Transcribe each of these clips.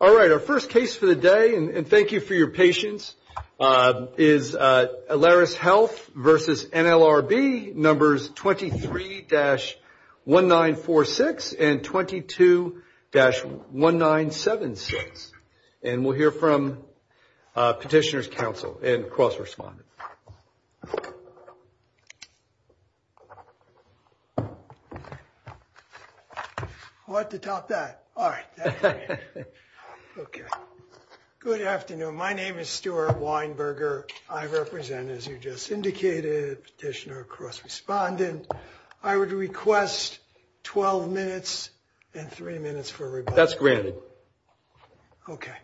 All right, our first case for the day, and thank you for your patience, is Alaris Health v. NLRB, numbers 23-1946 and 22-1976. And we'll hear from petitioner's counsel and cross-respondent. Good afternoon. My name is Stuart Weinberger. I represent, as you just indicated, petitioner and cross-respondent. I would request 12 minutes and three minutes for rebuttal. That's granted. Okay.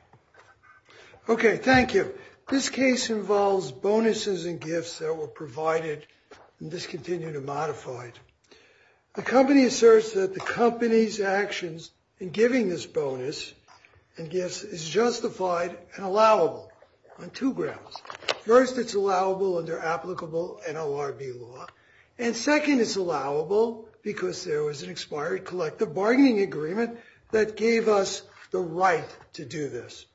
Okay, thank you. This case involves bonuses and gifts that were provided and discontinued and modified. The company asserts that the company's actions in giving this bonus and gifts is justified and allowable on two grounds. First, it's allowable under applicable NLRB law. And second, it's allowable because there was an expired collective bargaining agreement that gave us the right to do this.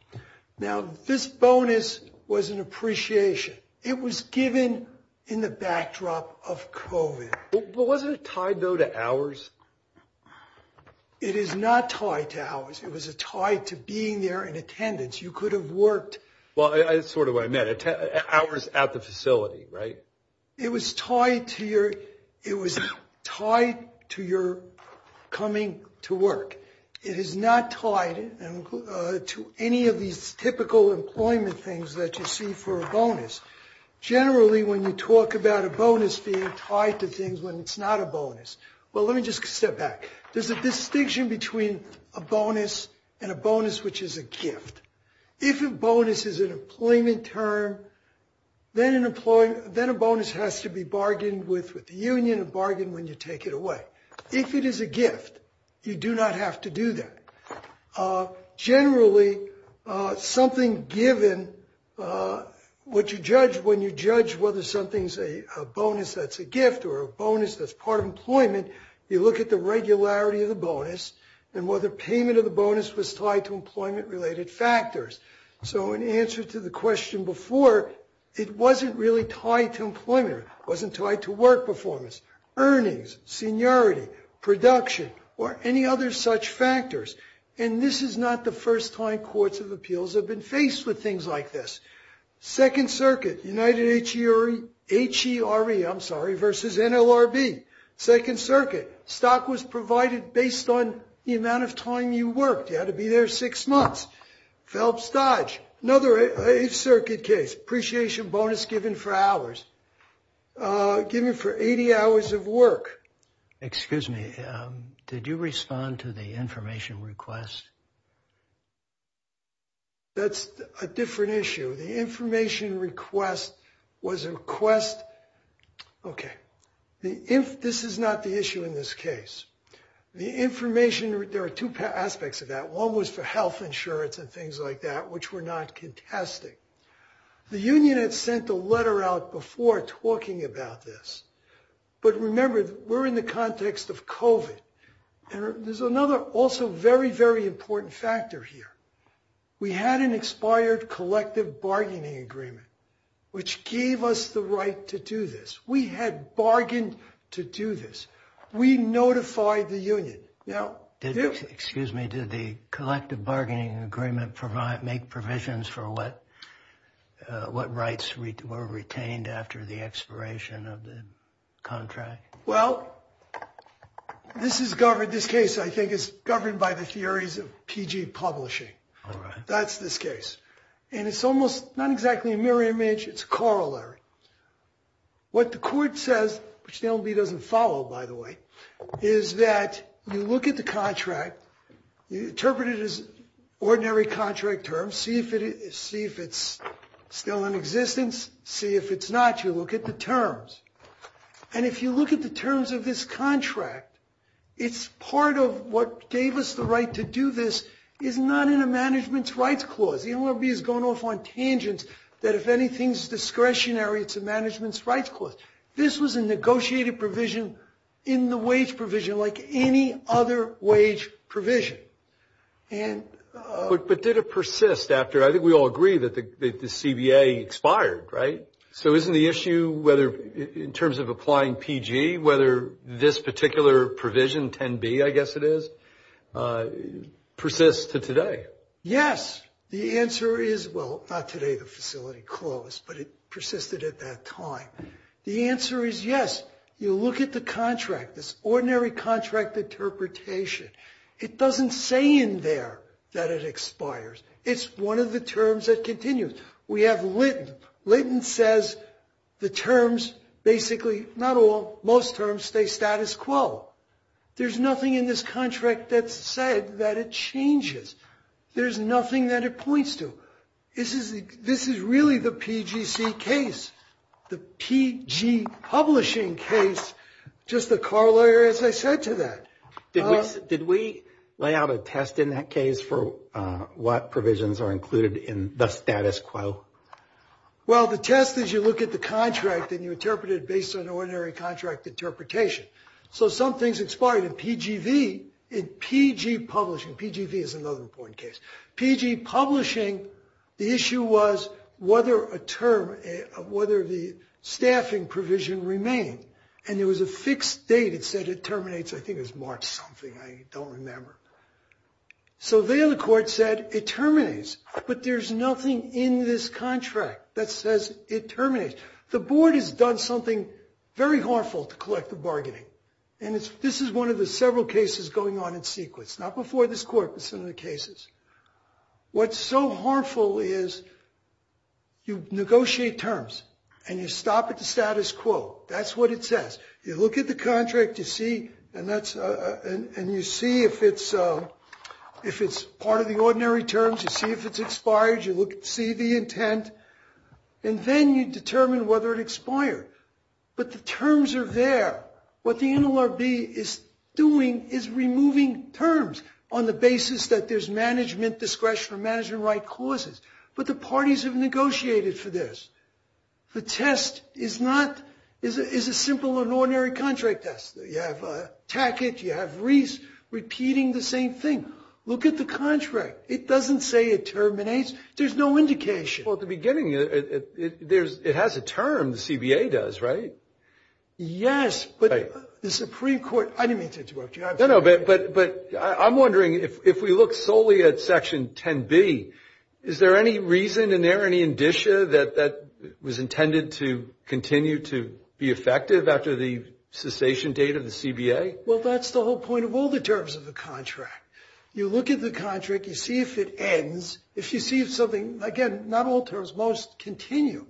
Now, this bonus was an appreciation. It was given in the backdrop of COVID. But wasn't it tied, though, to hours? It is not tied to hours. It was tied to being there in attendance. You could have worked. Well, that's sort of what I meant. Hours at the facility, right? It was tied to your coming to work. It is not tied to any of these typical employment things that you see for a bonus. Generally, when you talk about a bonus being tied to things when it's not a bonus. Well, let me just step back. There's a distinction between a bonus and a bonus which is a gift. If a bonus is an employment term, then a bonus has to be bargained with with the union and bargained when you take it away. If it is a gift, you do not have to do that. Generally, something given what you judge when you judge whether something's a bonus that's a gift or a bonus that's part of employment. You look at the regularity of the bonus and whether payment of the bonus was tied to employment related factors. So in answer to the question before, it wasn't really tied to employment. Wasn't tied to work performance, earnings, seniority, production or any other such factors. And this is not the first time courts of appeals have been faced with things like this. Second Circuit, United H.E.R.E., I'm sorry, versus NLRB. Second Circuit, stock was provided based on the amount of time you worked. You had to be there six months. Phelps Dodge, another Eighth Circuit case. Appreciation bonus given for hours. Given for 80 hours of work. Excuse me, did you respond to the information request? That's a different issue. The information request was a request. OK. If this is not the issue in this case, the information, there are two aspects of that. One was for health insurance and things like that, which we're not contesting. The union had sent a letter out before talking about this. But remember, we're in the context of COVID. There's another also very, very important factor here. We had an expired collective bargaining agreement, which gave us the right to do this. We had bargained to do this. We notified the union. Excuse me, did the collective bargaining agreement make provisions for what rights were retained after the expiration of the contract? Well, this case, I think, is governed by the theories of PG publishing. That's this case. And it's almost not exactly a mirror image. It's corollary. What the court says, which the NLB doesn't follow, by the way, is that you look at the contract. You interpret it as ordinary contract terms. See if it's still in existence. See if it's not. You look at the terms. And if you look at the terms of this contract, it's part of what gave us the right to do this is not in a management's rights clause. The NLB has gone off on tangents that if anything's discretionary, it's a management's rights clause. This was a negotiated provision in the wage provision like any other wage provision. But did it persist after? I think we all agree that the CBA expired, right? So isn't the issue whether in terms of applying PG, whether this particular provision, 10B, I guess it is, persists to today? Yes. The answer is, well, not today, the facility closed, but it persisted at that time. The answer is yes. You look at the contract, this ordinary contract interpretation. It doesn't say in there that it expires. It's one of the terms that continues. We have Linton. Linton says the terms basically, not all, most terms stay status quo. There's nothing in this contract that said that it changes. There's nothing that it points to. This is really the PGC case, the PG publishing case, just a car lawyer as I said to that. Did we lay out a test in that case for what provisions are included in the status quo? Well, the test is you look at the contract and you interpret it based on ordinary contract interpretation. So some things expired in PGV, in PG publishing. PGV is another important case. PG publishing, the issue was whether a term, whether the staffing provision remained. And there was a fixed date it said it terminates. I think it was March something. I don't remember. So there the court said it terminates. But there's nothing in this contract that says it terminates. The board has done something very harmful to collective bargaining. And this is one of the several cases going on in sequence, not before this court, but some of the cases. What's so harmful is you negotiate terms and you stop at the status quo. That's what it says. You look at the contract and you see if it's part of the ordinary terms. You see if it's expired. You see the intent. And then you determine whether it expired. But the terms are there. What the NLRB is doing is removing terms on the basis that there's management discretion or management right clauses. But the parties have negotiated for this. The test is a simple and ordinary contract test. You have Tackett. You have Reese repeating the same thing. Look at the contract. It doesn't say it terminates. There's no indication. Well, at the beginning, it has a term. The CBA does, right? Yes. But the Supreme Court — I didn't mean to interrupt you. No, no. But I'm wondering, if we look solely at Section 10B, is there any reason and there any indicia that that was intended to continue to be effective after the cessation date of the CBA? Well, that's the whole point of all the terms of the contract. You look at the contract. You see if it ends. If you see if something — again, not all terms, most continue.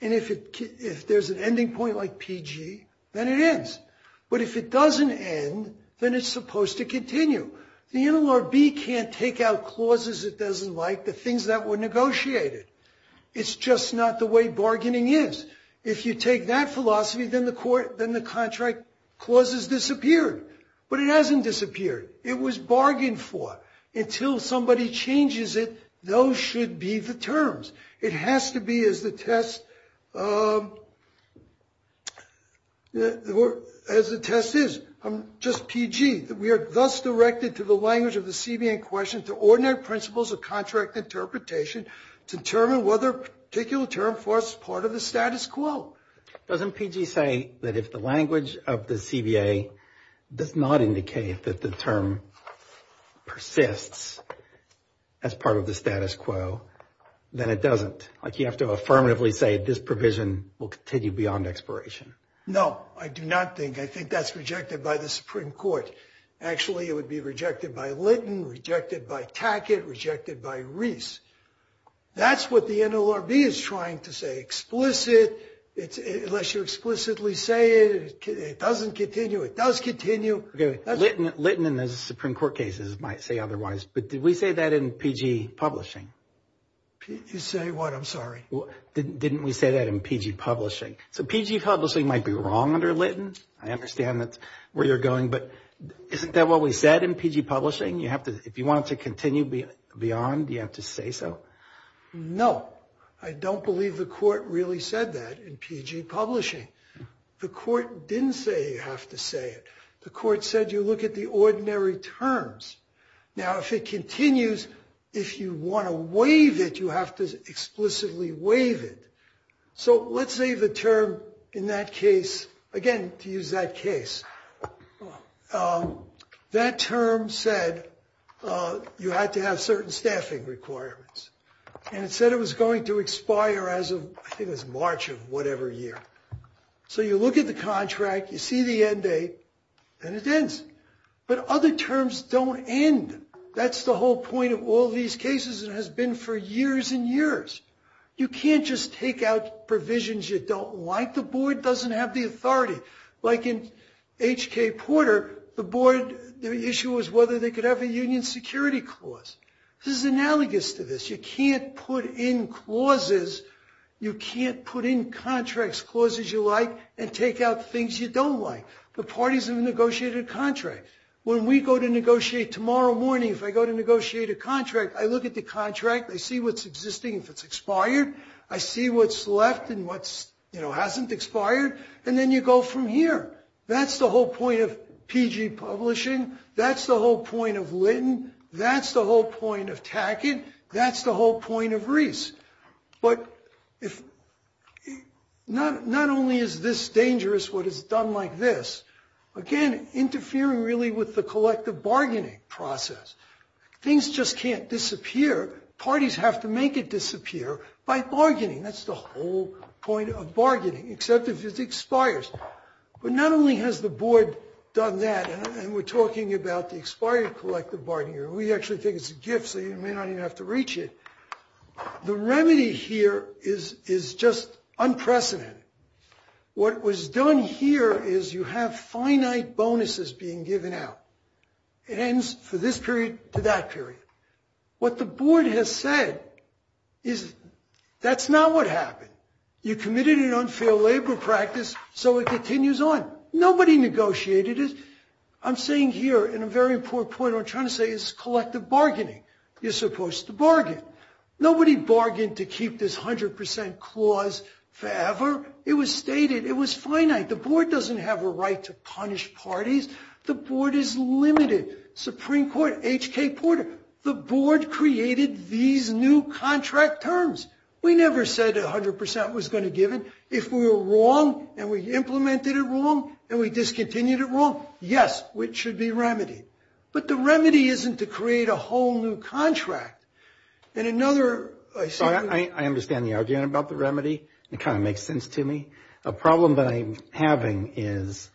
And if there's an ending point like PG, then it ends. But if it doesn't end, then it's supposed to continue. The NLRB can't take out clauses it doesn't like, the things that were negotiated. It's just not the way bargaining is. If you take that philosophy, then the contract clauses disappeared. But it hasn't disappeared. It was bargained for. Until somebody changes it, those should be the terms. It has to be as the test — as the test is. Just PG. We are thus directed to the language of the CBA in question to ordinary principles of contract interpretation to determine whether a particular term for us is part of the status quo. Doesn't PG say that if the language of the CBA does not indicate that the term persists as part of the status quo, then it doesn't? Like you have to affirmatively say this provision will continue beyond expiration. No, I do not think. I think that's rejected by the Supreme Court. Actually, it would be rejected by Linton, rejected by Tackett, rejected by Reese. That's what the NLRB is trying to say. Explicit, unless you explicitly say it, it doesn't continue. It does continue. Linton and the Supreme Court cases might say otherwise, but did we say that in PG publishing? Say what? I'm sorry. Didn't we say that in PG publishing? So PG publishing might be wrong under Linton. I understand where you're going, but isn't that what we said in PG publishing? If you want it to continue beyond, you have to say so? No, I don't believe the court really said that in PG publishing. The court didn't say you have to say it. The court said you look at the ordinary terms. Now, if it continues, if you want to waive it, you have to explicitly waive it. So let's say the term in that case, again, to use that case. That term said you had to have certain staffing requirements. And it said it was going to expire as of, I think it was March of whatever year. So you look at the contract, you see the end date, and it ends. But other terms don't end. That's the whole point of all these cases and has been for years and years. You can't just take out provisions you don't like. The board doesn't have the authority. Like in H.K. Porter, the board, the issue was whether they could have a union security clause. This is analogous to this. You can't put in clauses. You can't put in contract clauses you like and take out things you don't like. The parties have negotiated a contract. When we go to negotiate tomorrow morning, if I go to negotiate a contract, I look at the contract, I see what's existing, if it's expired. I see what's left and what hasn't expired. And then you go from here. That's the whole point of PG Publishing. That's the whole point of Lytton. That's the whole point of Tackett. That's the whole point of Reese. But not only is this dangerous, what is done like this, again interfering really with the collective bargaining process. Things just can't disappear. That's the whole point of bargaining. Except if it expires. But not only has the board done that, and we're talking about the expired collective bargaining. We actually think it's a gift, so you may not even have to reach it. The remedy here is just unprecedented. What was done here is you have finite bonuses being given out. It ends for this period to that period. What the board has said is that's not what happened. You committed an unfair labor practice, so it continues on. Nobody negotiated it. I'm saying here, in a very important point, what I'm trying to say is collective bargaining. You're supposed to bargain. Nobody bargained to keep this 100% clause forever. It was stated. It was finite. The board doesn't have a right to punish parties. The board is limited. Supreme Court, H.K. Porter, the board created these new contract terms. We never said 100% was going to give it. If we were wrong and we implemented it wrong and we discontinued it wrong, yes, it should be remedied. But the remedy isn't to create a whole new contract. And another, I see. I understand the argument about the remedy. It kind of makes sense to me. A problem that I'm having is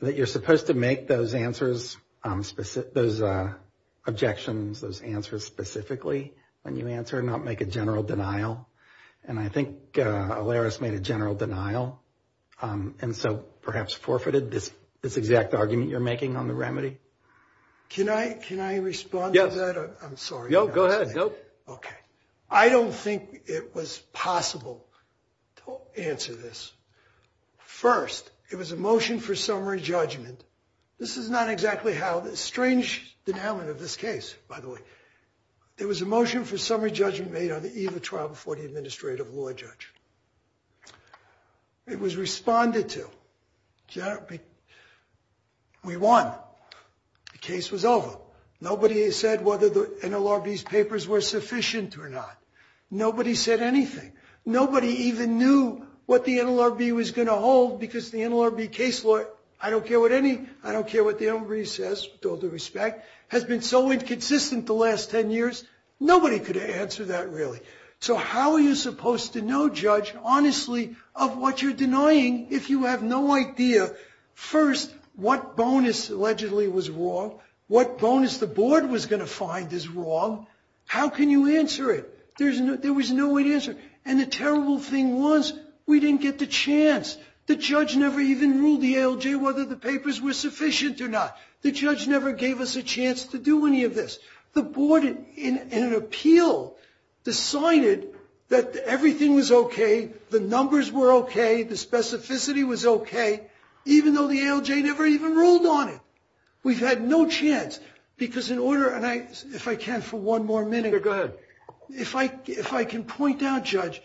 that you're supposed to make those answers, those objections, those answers specifically when you answer and not make a general denial. And I think Alaris made a general denial and so perhaps forfeited this exact argument you're making on the remedy. Can I respond to that? Yes. I'm sorry. No, go ahead. Okay. I don't think it was possible to answer this. First, it was a motion for summary judgment. This is not exactly how the strange denouement of this case, by the way. It was a motion for summary judgment made on the eve of trial before the administrative law judge. It was responded to. We won. The case was over. Nobody said whether the NLRB's papers were sufficient or not. Nobody said anything. Nobody even knew what the NLRB was going to hold because the NLRB case law, I don't care what anybody says with all due respect, has been so inconsistent the last 10 years. Nobody could answer that really. So how are you supposed to know, Judge, honestly, of what you're denying if you have no idea first what bonus allegedly was wrong, what bonus the board was going to find is wrong? How can you answer it? There was no way to answer it. And the terrible thing was we didn't get the chance. The judge never even ruled the ALJ whether the papers were sufficient or not. The judge never gave us a chance to do any of this. The board, in an appeal, decided that everything was okay, the numbers were okay, the specificity was okay, even though the ALJ never even ruled on it. We've had no chance because in order, and if I can for one more minute. Go ahead. If I can point out, Judge,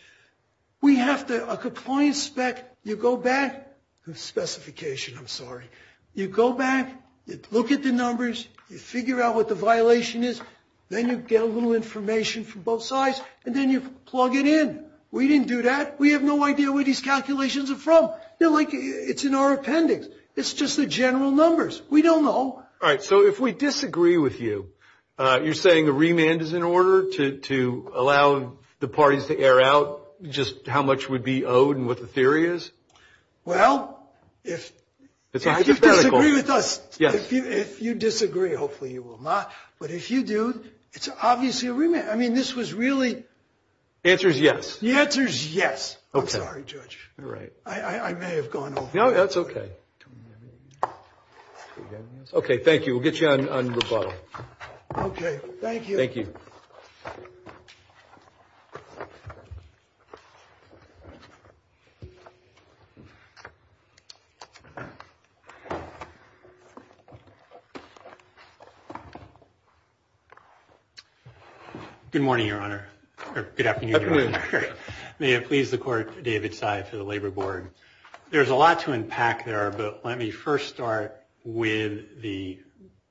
we have a compliance spec. You go back. Specification, I'm sorry. You go back, you look at the numbers, you figure out what the violation is, then you get a little information from both sides, and then you plug it in. We didn't do that. We have no idea where these calculations are from. They're like it's in our appendix. It's just the general numbers. We don't know. All right, so if we disagree with you, you're saying the remand is in order to allow the parties to air out just how much would be owed and what the theory is? Well, if you disagree with us, if you disagree, hopefully you will not, but if you do, it's obviously a remand. I mean, this was really. The answer is yes. The answer is yes. I'm sorry, Judge. I may have gone over. No, that's okay. Okay, thank you. We'll get you on rebuttal. Okay, thank you. Thank you. Good morning, Your Honor, or good afternoon, Your Honor. May it please the Court, David Sy for the Labor Board. There's a lot to unpack there, but let me first start with the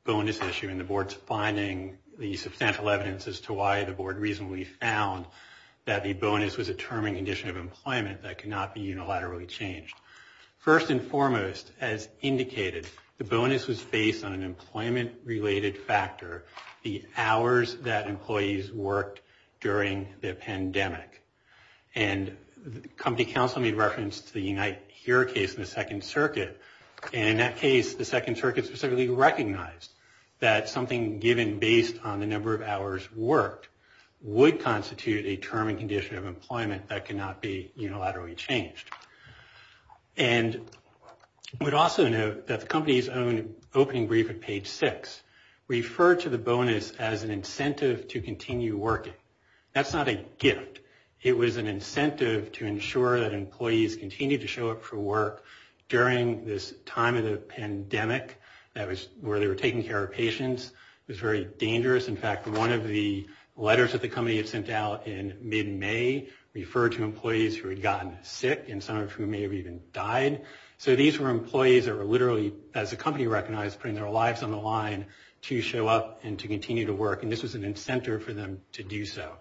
bonus issue and the Board's finding the substantial evidence as to why the Board reasonably found that the bonus was a term and condition of employment that could not be unilaterally changed. First and foremost, as indicated, the bonus was based on an employment-related factor, the hours that employees worked during the pandemic. And the company counsel made reference to the Unite Here case in the Second Circuit, and in that case the Second Circuit specifically recognized that something given based on the number of hours worked would constitute a term and condition of employment that could not be unilaterally changed. And I would also note that the company's own opening brief at page 6 referred to the bonus as an incentive to continue working. That's not a gift. It was an incentive to ensure that employees continued to show up for work during this time of the pandemic where they were taking care of patients. It was very dangerous. In fact, one of the letters that the company had sent out in mid-May referred to employees who had gotten sick and some of whom may have even died. So these were employees that were literally, as the company recognized, putting their lives on the line to show up and to continue to work, and this was an incentive for them to do so.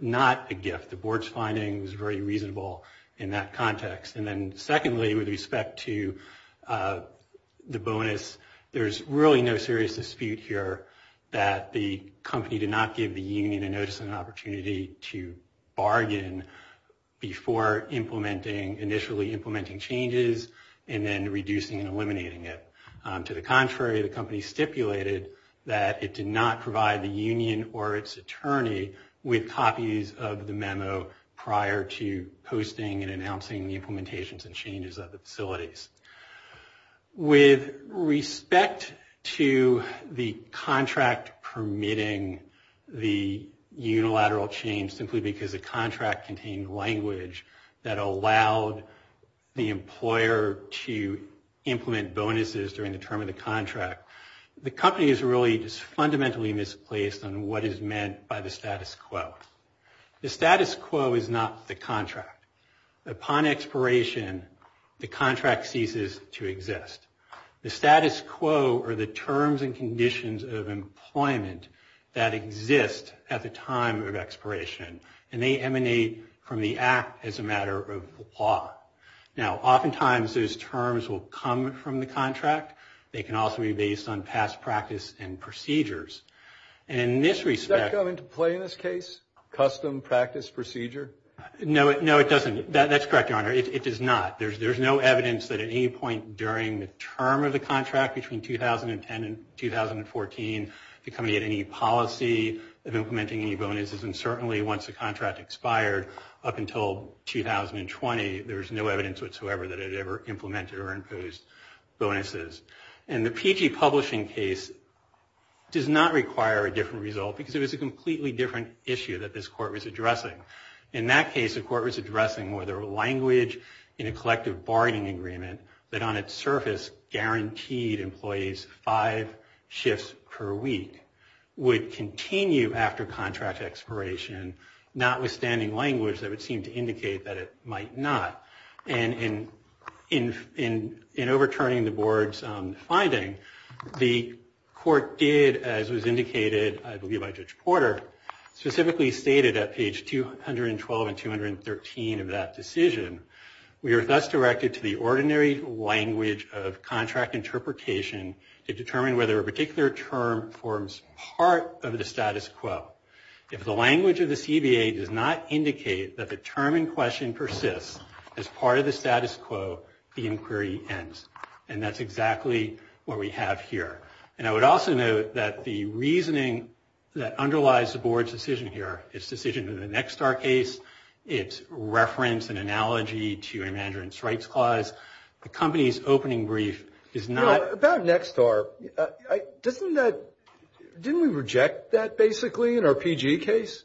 Not a gift. The Board's finding was very reasonable in that context. And then secondly, with respect to the bonus, there's really no serious dispute here that the company did not give the union a notice and an opportunity to bargain before initially implementing changes and then reducing and eliminating it. To the contrary, the company stipulated that it did not provide the union or its attorney with copies of the memo prior to posting and announcing the implementations and changes of the facilities. With respect to the contract permitting the unilateral change, simply because the contract contained language that allowed the employer to implement bonuses during the term of the contract, the company is really just fundamentally misplaced on what is meant by the status quo. The status quo is not the contract. Upon expiration, the contract ceases to exist. The status quo are the terms and conditions of employment that exist at the time of expiration, and they emanate from the act as a matter of law. Now, oftentimes those terms will come from the contract. They can also be based on past practice and procedures. And in this respect- Does that come into play in this case, custom practice procedure? No, it doesn't. That's correct, Your Honor. It does not. There's no evidence that at any point during the term of the contract between 2010 and 2014, the company had any policy of implementing any bonuses. And certainly once the contract expired up until 2020, there was no evidence whatsoever that it had ever implemented or imposed bonuses. And the PG publishing case does not require a different result because it was a completely different issue that this Court was addressing. In that case, the Court was addressing whether language in a collective bargaining agreement that on its surface guaranteed employees five shifts per week would continue after contract expiration, notwithstanding language that would seem to indicate that it might not. And in overturning the Board's finding, the Court did, as was indicated, I believe, by Judge Porter, specifically stated at page 212 and 213 of that decision, we are thus directed to the ordinary language of contract interpretation to determine whether a particular term forms part of the status quo. If the language of the CBA does not indicate that the term in question persists as part of the status quo, the inquiry ends. And that's exactly what we have here. And I would also note that the reasoning that underlies the Board's decision here, its decision in the Nexstar case, its reference and analogy to a management rights clause, the company's opening brief is not... About Nexstar, didn't we reject that basically in our PG case?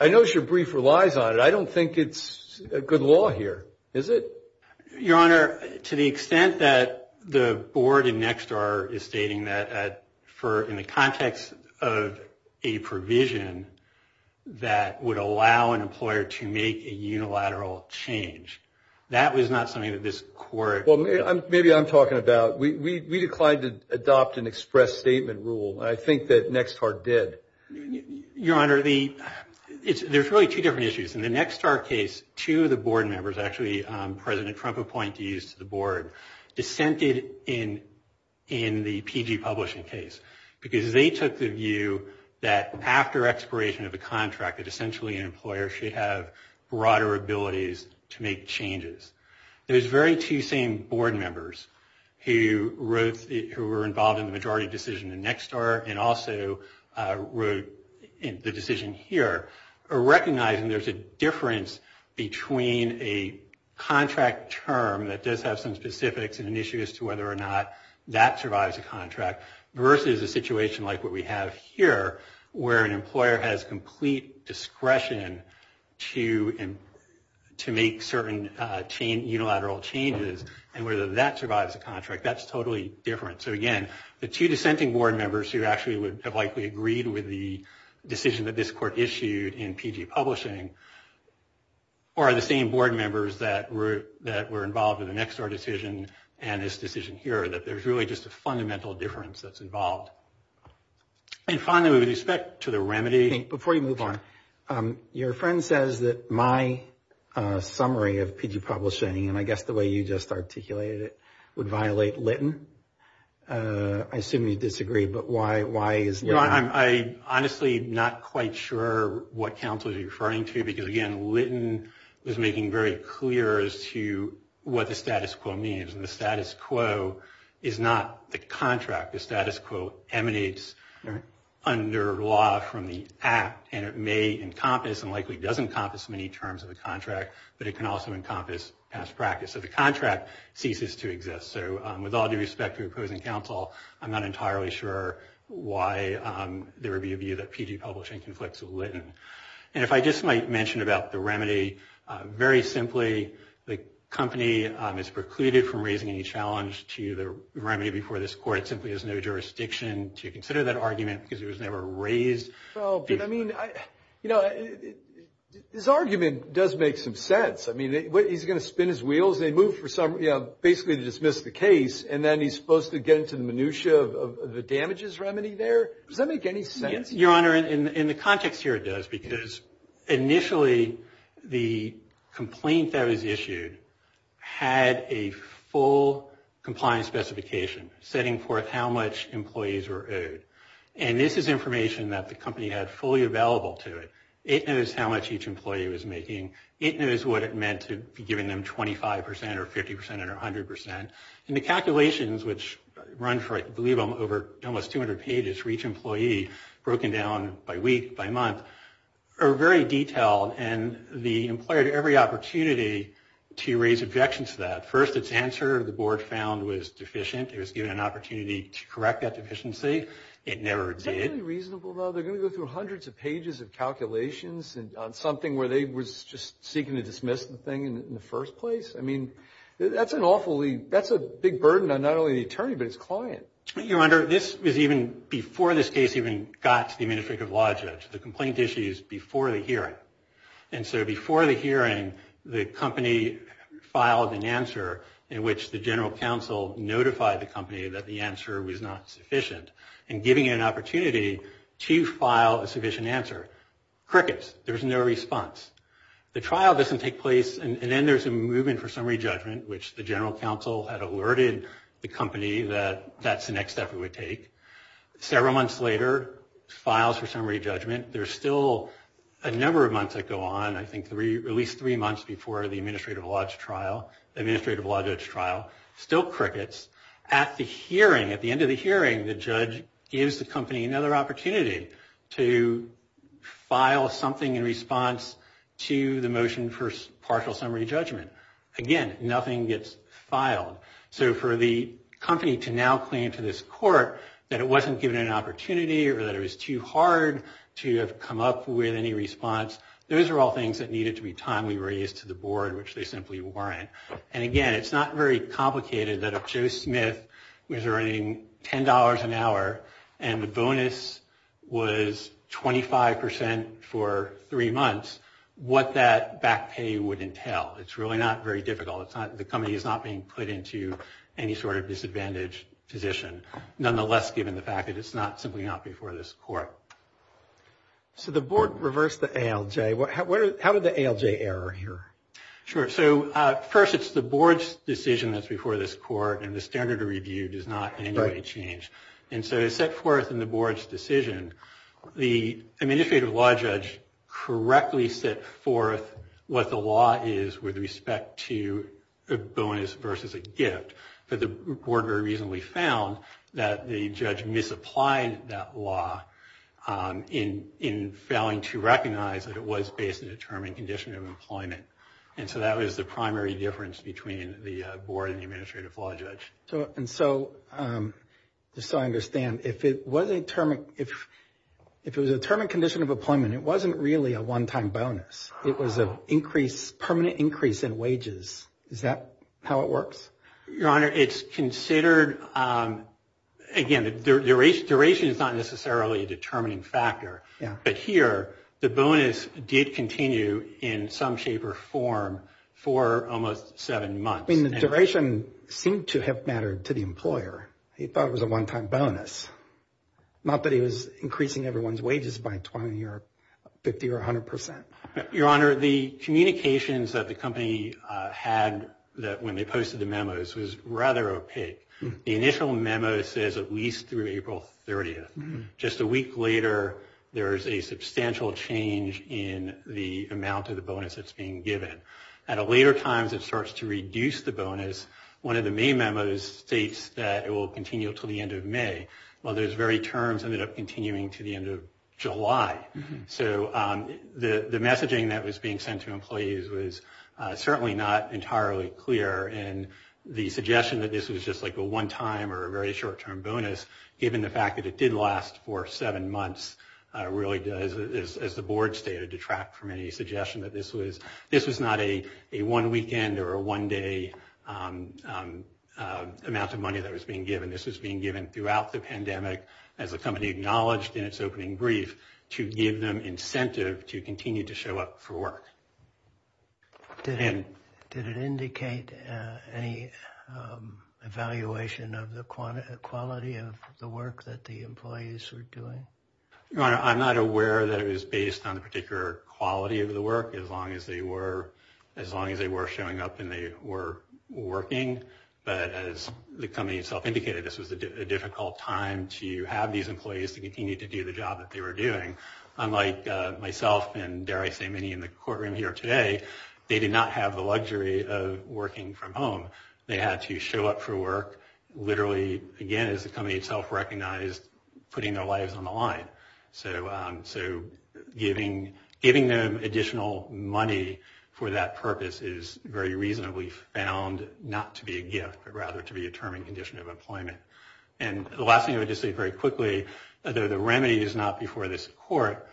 I notice your brief relies on it. I don't think it's good law here, is it? Your Honor, to the extent that the Board in Nexstar is stating that in the context of a provision that would allow an employer to make a unilateral change, that was not something that this Court... Well, maybe I'm talking about we declined to adopt an express statement rule. I think that Nexstar did. Your Honor, there's really two different issues. In the Nexstar case, two of the Board members, actually President Trump appointees to the Board, dissented in the PG publishing case because they took the view that after expiration of a contract, that essentially an employer should have broader abilities to make changes. Those very two same Board members who were involved in the majority decision in Nexstar and also wrote the decision here are recognizing there's a difference between a contract term that does have some specifics and an issue as to whether or not that survives a contract versus a situation like what we have here where an employer has complete discretion to make certain unilateral changes and whether that survives a contract. That's totally different. So, again, the two dissenting Board members who actually would have likely agreed with the decision that this Court issued in PG publishing are the same Board members that were involved in the Nexstar decision and this decision here, that there's really just a fundamental difference that's involved. And finally, with respect to the remedy... Before you move on, your friend says that my summary of PG publishing, and I guess the way you just articulated it, would violate Litton. I assume you disagree, but why is that? I'm honestly not quite sure what counsel is referring to because, again, Litton was making very clear as to what the status quo means. And the status quo is not the contract. The status quo emanates under law from the Act, and it may encompass and likely does encompass many terms of the contract, but it can also encompass past practice. So the contract ceases to exist. So with all due respect to opposing counsel, I'm not entirely sure why there would be a view that PG publishing conflicts with Litton. And if I just might mention about the remedy, very simply, the company is precluded from raising any challenge to the remedy before this Court. It simply has no jurisdiction to consider that argument because it was never raised. Well, I mean, you know, his argument does make some sense. I mean, he's going to spin his wheels. They move for basically to dismiss the case, and then he's supposed to get into the minutia of the damages remedy there? Does that make any sense? Your Honor, in the context here, it does, because initially the complaint that was issued had a full compliance specification, setting forth how much employees were owed. And this is information that the company had fully available to it. It knows how much each employee was making. It knows what it meant to be giving them 25 percent or 50 percent or 100 percent. And the calculations, which run for, I believe, almost 200 pages for each employee, broken down by week, by month, are very detailed. And the employer had every opportunity to raise objections to that. First, its answer, the Board found, was deficient. It was given an opportunity to correct that deficiency. It never did. Is that really reasonable, though? They're going to go through hundreds of pages of calculations on something where they were just seeking to dismiss the thing in the first place? I mean, that's an awfully – that's a big burden on not only the attorney, but its client. Your Honor, this was even before this case even got to the Administrative Law Judge. The complaint issue is before the hearing. And so before the hearing, the company filed an answer in which the General Counsel notified the company that the answer was not sufficient and giving it an opportunity to file a sufficient answer. Crickets. There's no response. The trial doesn't take place, and then there's a movement for summary judgment, which the General Counsel had alerted the company that that's the next step it would take. Several months later, files for summary judgment. There's still a number of months that go on, I think at least three months before the Administrative Law Judge trial. The Administrative Law Judge trial still crickets. At the hearing, at the end of the hearing, the judge gives the company another opportunity to file something in response to the motion for partial summary judgment. Again, nothing gets filed. So for the company to now claim to this court that it wasn't given an opportunity or that it was too hard to have come up with any response, those are all things that needed to be timely raised to the board, which they simply weren't. And again, it's not very complicated that if Joe Smith was earning $10 an hour and the bonus was 25% for three months, what that back pay would entail. It's really not very difficult. The company is not being put into any sort of disadvantaged position, nonetheless given the fact that it's simply not before this court. So the board reversed the ALJ. How did the ALJ error here? Sure. So first it's the board's decision that's before this court, and the standard of review does not in any way change. And so it's set forth in the board's decision. The Administrative Law Judge correctly set forth what the law is with respect to a bonus versus a gift. But the board very reasonably found that the judge misapplied that law in failing to recognize that it was based on a determined condition of employment. And so that was the primary difference between the board and the Administrative Law Judge. And so just so I understand, if it was a determined condition of employment, it wasn't really a one-time bonus. It was a permanent increase in wages. Is that how it works? Your Honor, it's considered, again, duration is not necessarily a determining factor. But here, the bonus did continue in some shape or form for almost seven months. I mean, the duration seemed to have mattered to the employer. He thought it was a one-time bonus. Not that he was increasing everyone's wages by 20 or 50 or 100 percent. Your Honor, the communications that the company had when they posted the memos was rather opaque. The initial memo says at least through April 30th. Just a week later, there is a substantial change in the amount of the bonus that's being given. At later times, it starts to reduce the bonus. One of the main memos states that it will continue until the end of May. Well, those very terms ended up continuing to the end of July. So the messaging that was being sent to employees was certainly not entirely clear. And the suggestion that this was just like a one-time or a very short-term bonus, given the fact that it did last for seven months, really does, as the board stated, detract from any suggestion that this was not a one-weekend or a one-day amount of money that was being given. This was being given throughout the pandemic, as the company acknowledged in its opening brief, to give them incentive to continue to show up for work. Did it indicate any evaluation of the quality of the work that the employees were doing? Your Honor, I'm not aware that it was based on the particular quality of the work, as long as they were showing up and they were working. But as the company itself indicated, this was a difficult time to have these employees to continue to do the job that they were doing. Unlike myself and, dare I say, many in the courtroom here today, they did not have the luxury of working from home. They had to show up for work, literally, again, as the company itself recognized, putting their lives on the line. So giving them additional money for that purpose is very reasonably found not to be a gift, but rather to be a term and condition of employment. And the last thing I would just say very quickly, although the remedy is not before this Court,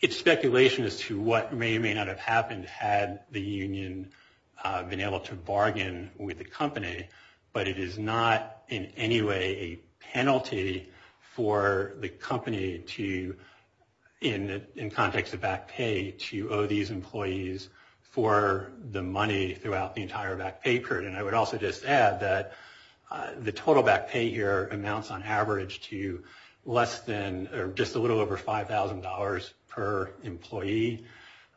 it's speculation as to what may or may not have happened had the union been able to bargain with the company. But it is not in any way a penalty for the company to, in context of back pay, to owe these employees for the money throughout the entire back pay period. And I would also just add that the total back pay here amounts on average to less than, or just a little over $5,000 per employee.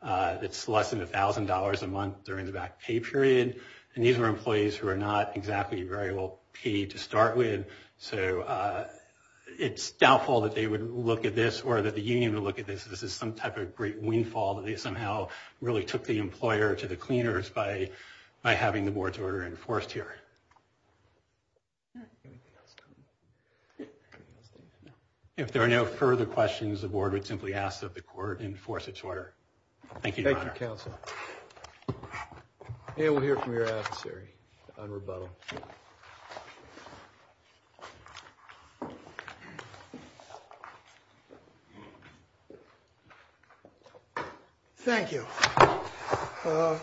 It's less than $1,000 a month during the back pay period. And these are employees who are not exactly very well paid to start with. So it's doubtful that they would look at this or that the union would look at this. This is some type of great windfall that they somehow really took the employer to the cleaners by having the Board's order enforced here. If there are no further questions, the Board would simply ask that the Court enforce its order. Thank you, Your Honor. Thank you, Counsel. And we'll hear from your adversary on rebuttal. Thank you. A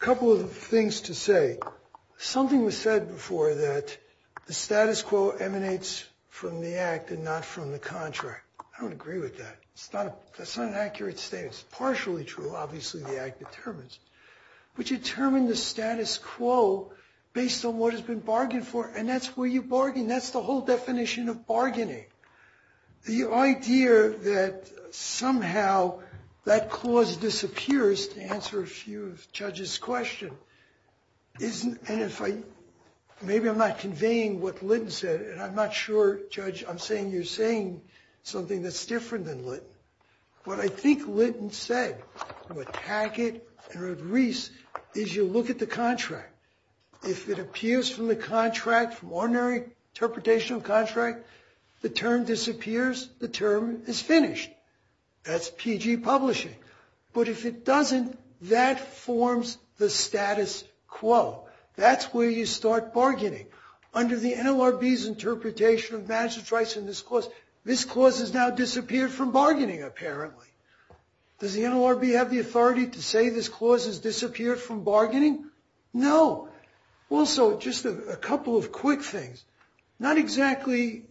couple of things to say. Something was said before that the status quo emanates from the act and not from the contract. I don't agree with that. That's not an accurate statement. It's partially true. Obviously, the act determines. But you determine the status quo based on what has been bargained for, and that's where you bargain. That's the whole definition of bargaining. The idea that somehow that clause disappears, to answer a few judges' questions, and maybe I'm not conveying what Litton said, and I'm not sure, Judge, I'm saying you're saying something that's different than Litton. What I think Litton said, to attack it and erase, is you look at the contract. If it appears from the contract, from ordinary interpretation of contract, the term disappears, the term is finished. That's PG publishing. But if it doesn't, that forms the status quo. That's where you start bargaining. Under the NLRB's interpretation of management's rights in this clause, this clause has now disappeared from bargaining, apparently. Does the NLRB have the authority to say this clause has disappeared from bargaining? No. Also, just a couple of quick things. Not exactly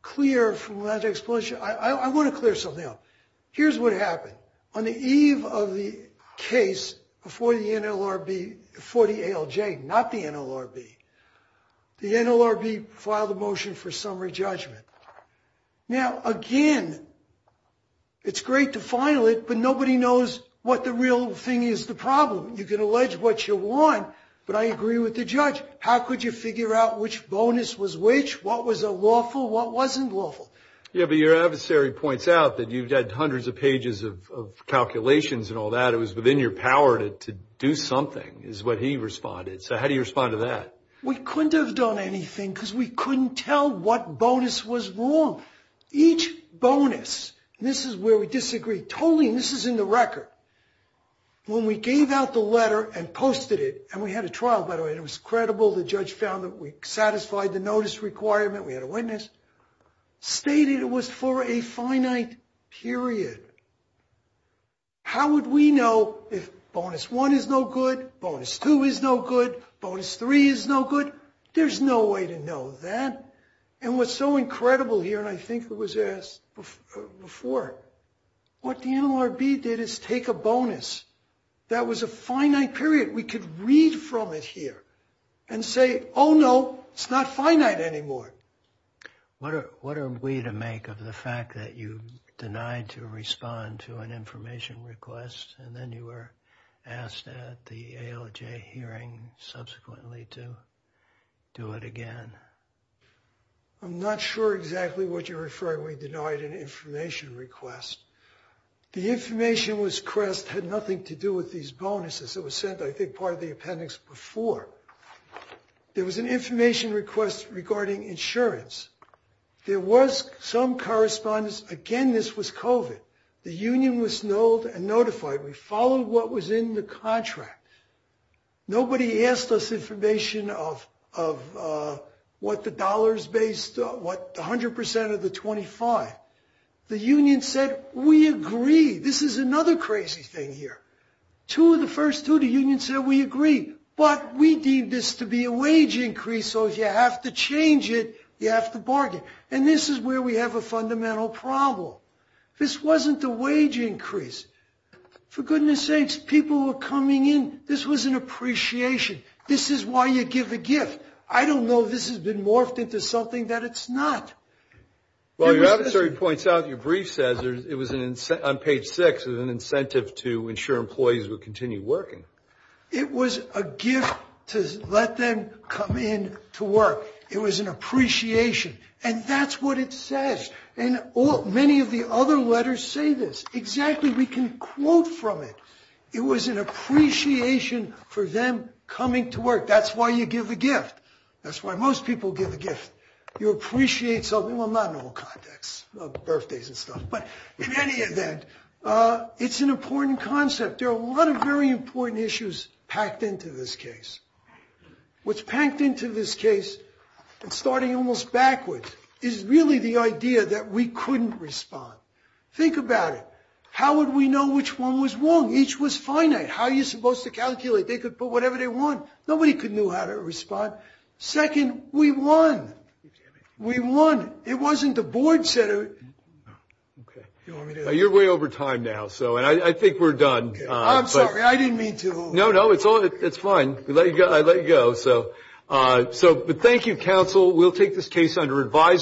clear from the logic explanation. I want to clear something up. Here's what happened. On the eve of the case for the NLRB, for the ALJ, not the NLRB, the NLRB filed a motion for summary judgment. Now, again, it's great to file it, but nobody knows what the real thing is the problem. You can allege what you want, but I agree with the judge. How could you figure out which bonus was which? What was lawful? What wasn't lawful? Yeah, but your adversary points out that you've got hundreds of pages of calculations and all that. It was within your power to do something, is what he responded. So how do you respond to that? We couldn't have done anything because we couldn't tell what bonus was wrong. Each bonus, and this is where we disagree totally, and this is in the record, when we gave out the letter and posted it, and we had a trial, by the way, and it was credible, the judge found that we satisfied the notice requirement, we had a witness, stated it was for a finite period. How would we know if bonus one is no good, bonus two is no good, bonus three is no good? There's no way to know that. And what's so incredible here, and I think it was asked before, what the NLRB did is take a bonus that was a finite period. We could read from it here and say, oh, no, it's not finite anymore. What are we to make of the fact that you denied to respond to an information request and then you were asked at the ALJ hearing subsequently to do it again? I'm not sure exactly what you're referring. We denied an information request. The information request had nothing to do with these bonuses. It was sent, I think, part of the appendix before. There was an information request regarding insurance. There was some correspondence. Again, this was COVID. The union was known and notified. We followed what was in the contract. Nobody asked us information of what the dollars based, what 100% of the 25. The union said, we agree. This is another crazy thing here. Two of the first two, the union said, we agree, but we deem this to be a wage increase, so if you have to change it, you have to bargain. And this is where we have a fundamental problem. This wasn't a wage increase. For goodness sakes, people were coming in. This was an appreciation. This is why you give a gift. I don't know if this has been morphed into something that it's not. Well, your advisory points out, your brief says, on page six, it was an incentive to ensure employees would continue working. It was a gift to let them come in to work. It was an appreciation, and that's what it says. And many of the other letters say this. Exactly, we can quote from it. It was an appreciation for them coming to work. That's why you give a gift. That's why most people give a gift. You appreciate something. Well, not in all contexts, birthdays and stuff. But in any event, it's an important concept. There are a lot of very important issues packed into this case. What's packed into this case, starting almost backwards, is really the idea that we couldn't respond. Think about it. How would we know which one was wrong? Each was finite. How are you supposed to calculate? They could put whatever they want. Nobody could know how to respond. Second, we won. We won. It wasn't the board that said it. You're way over time now, and I think we're done. I'm sorry. I didn't mean to. No, no, it's fine. I let you go. But thank you, counsel. We'll take this case under advisement.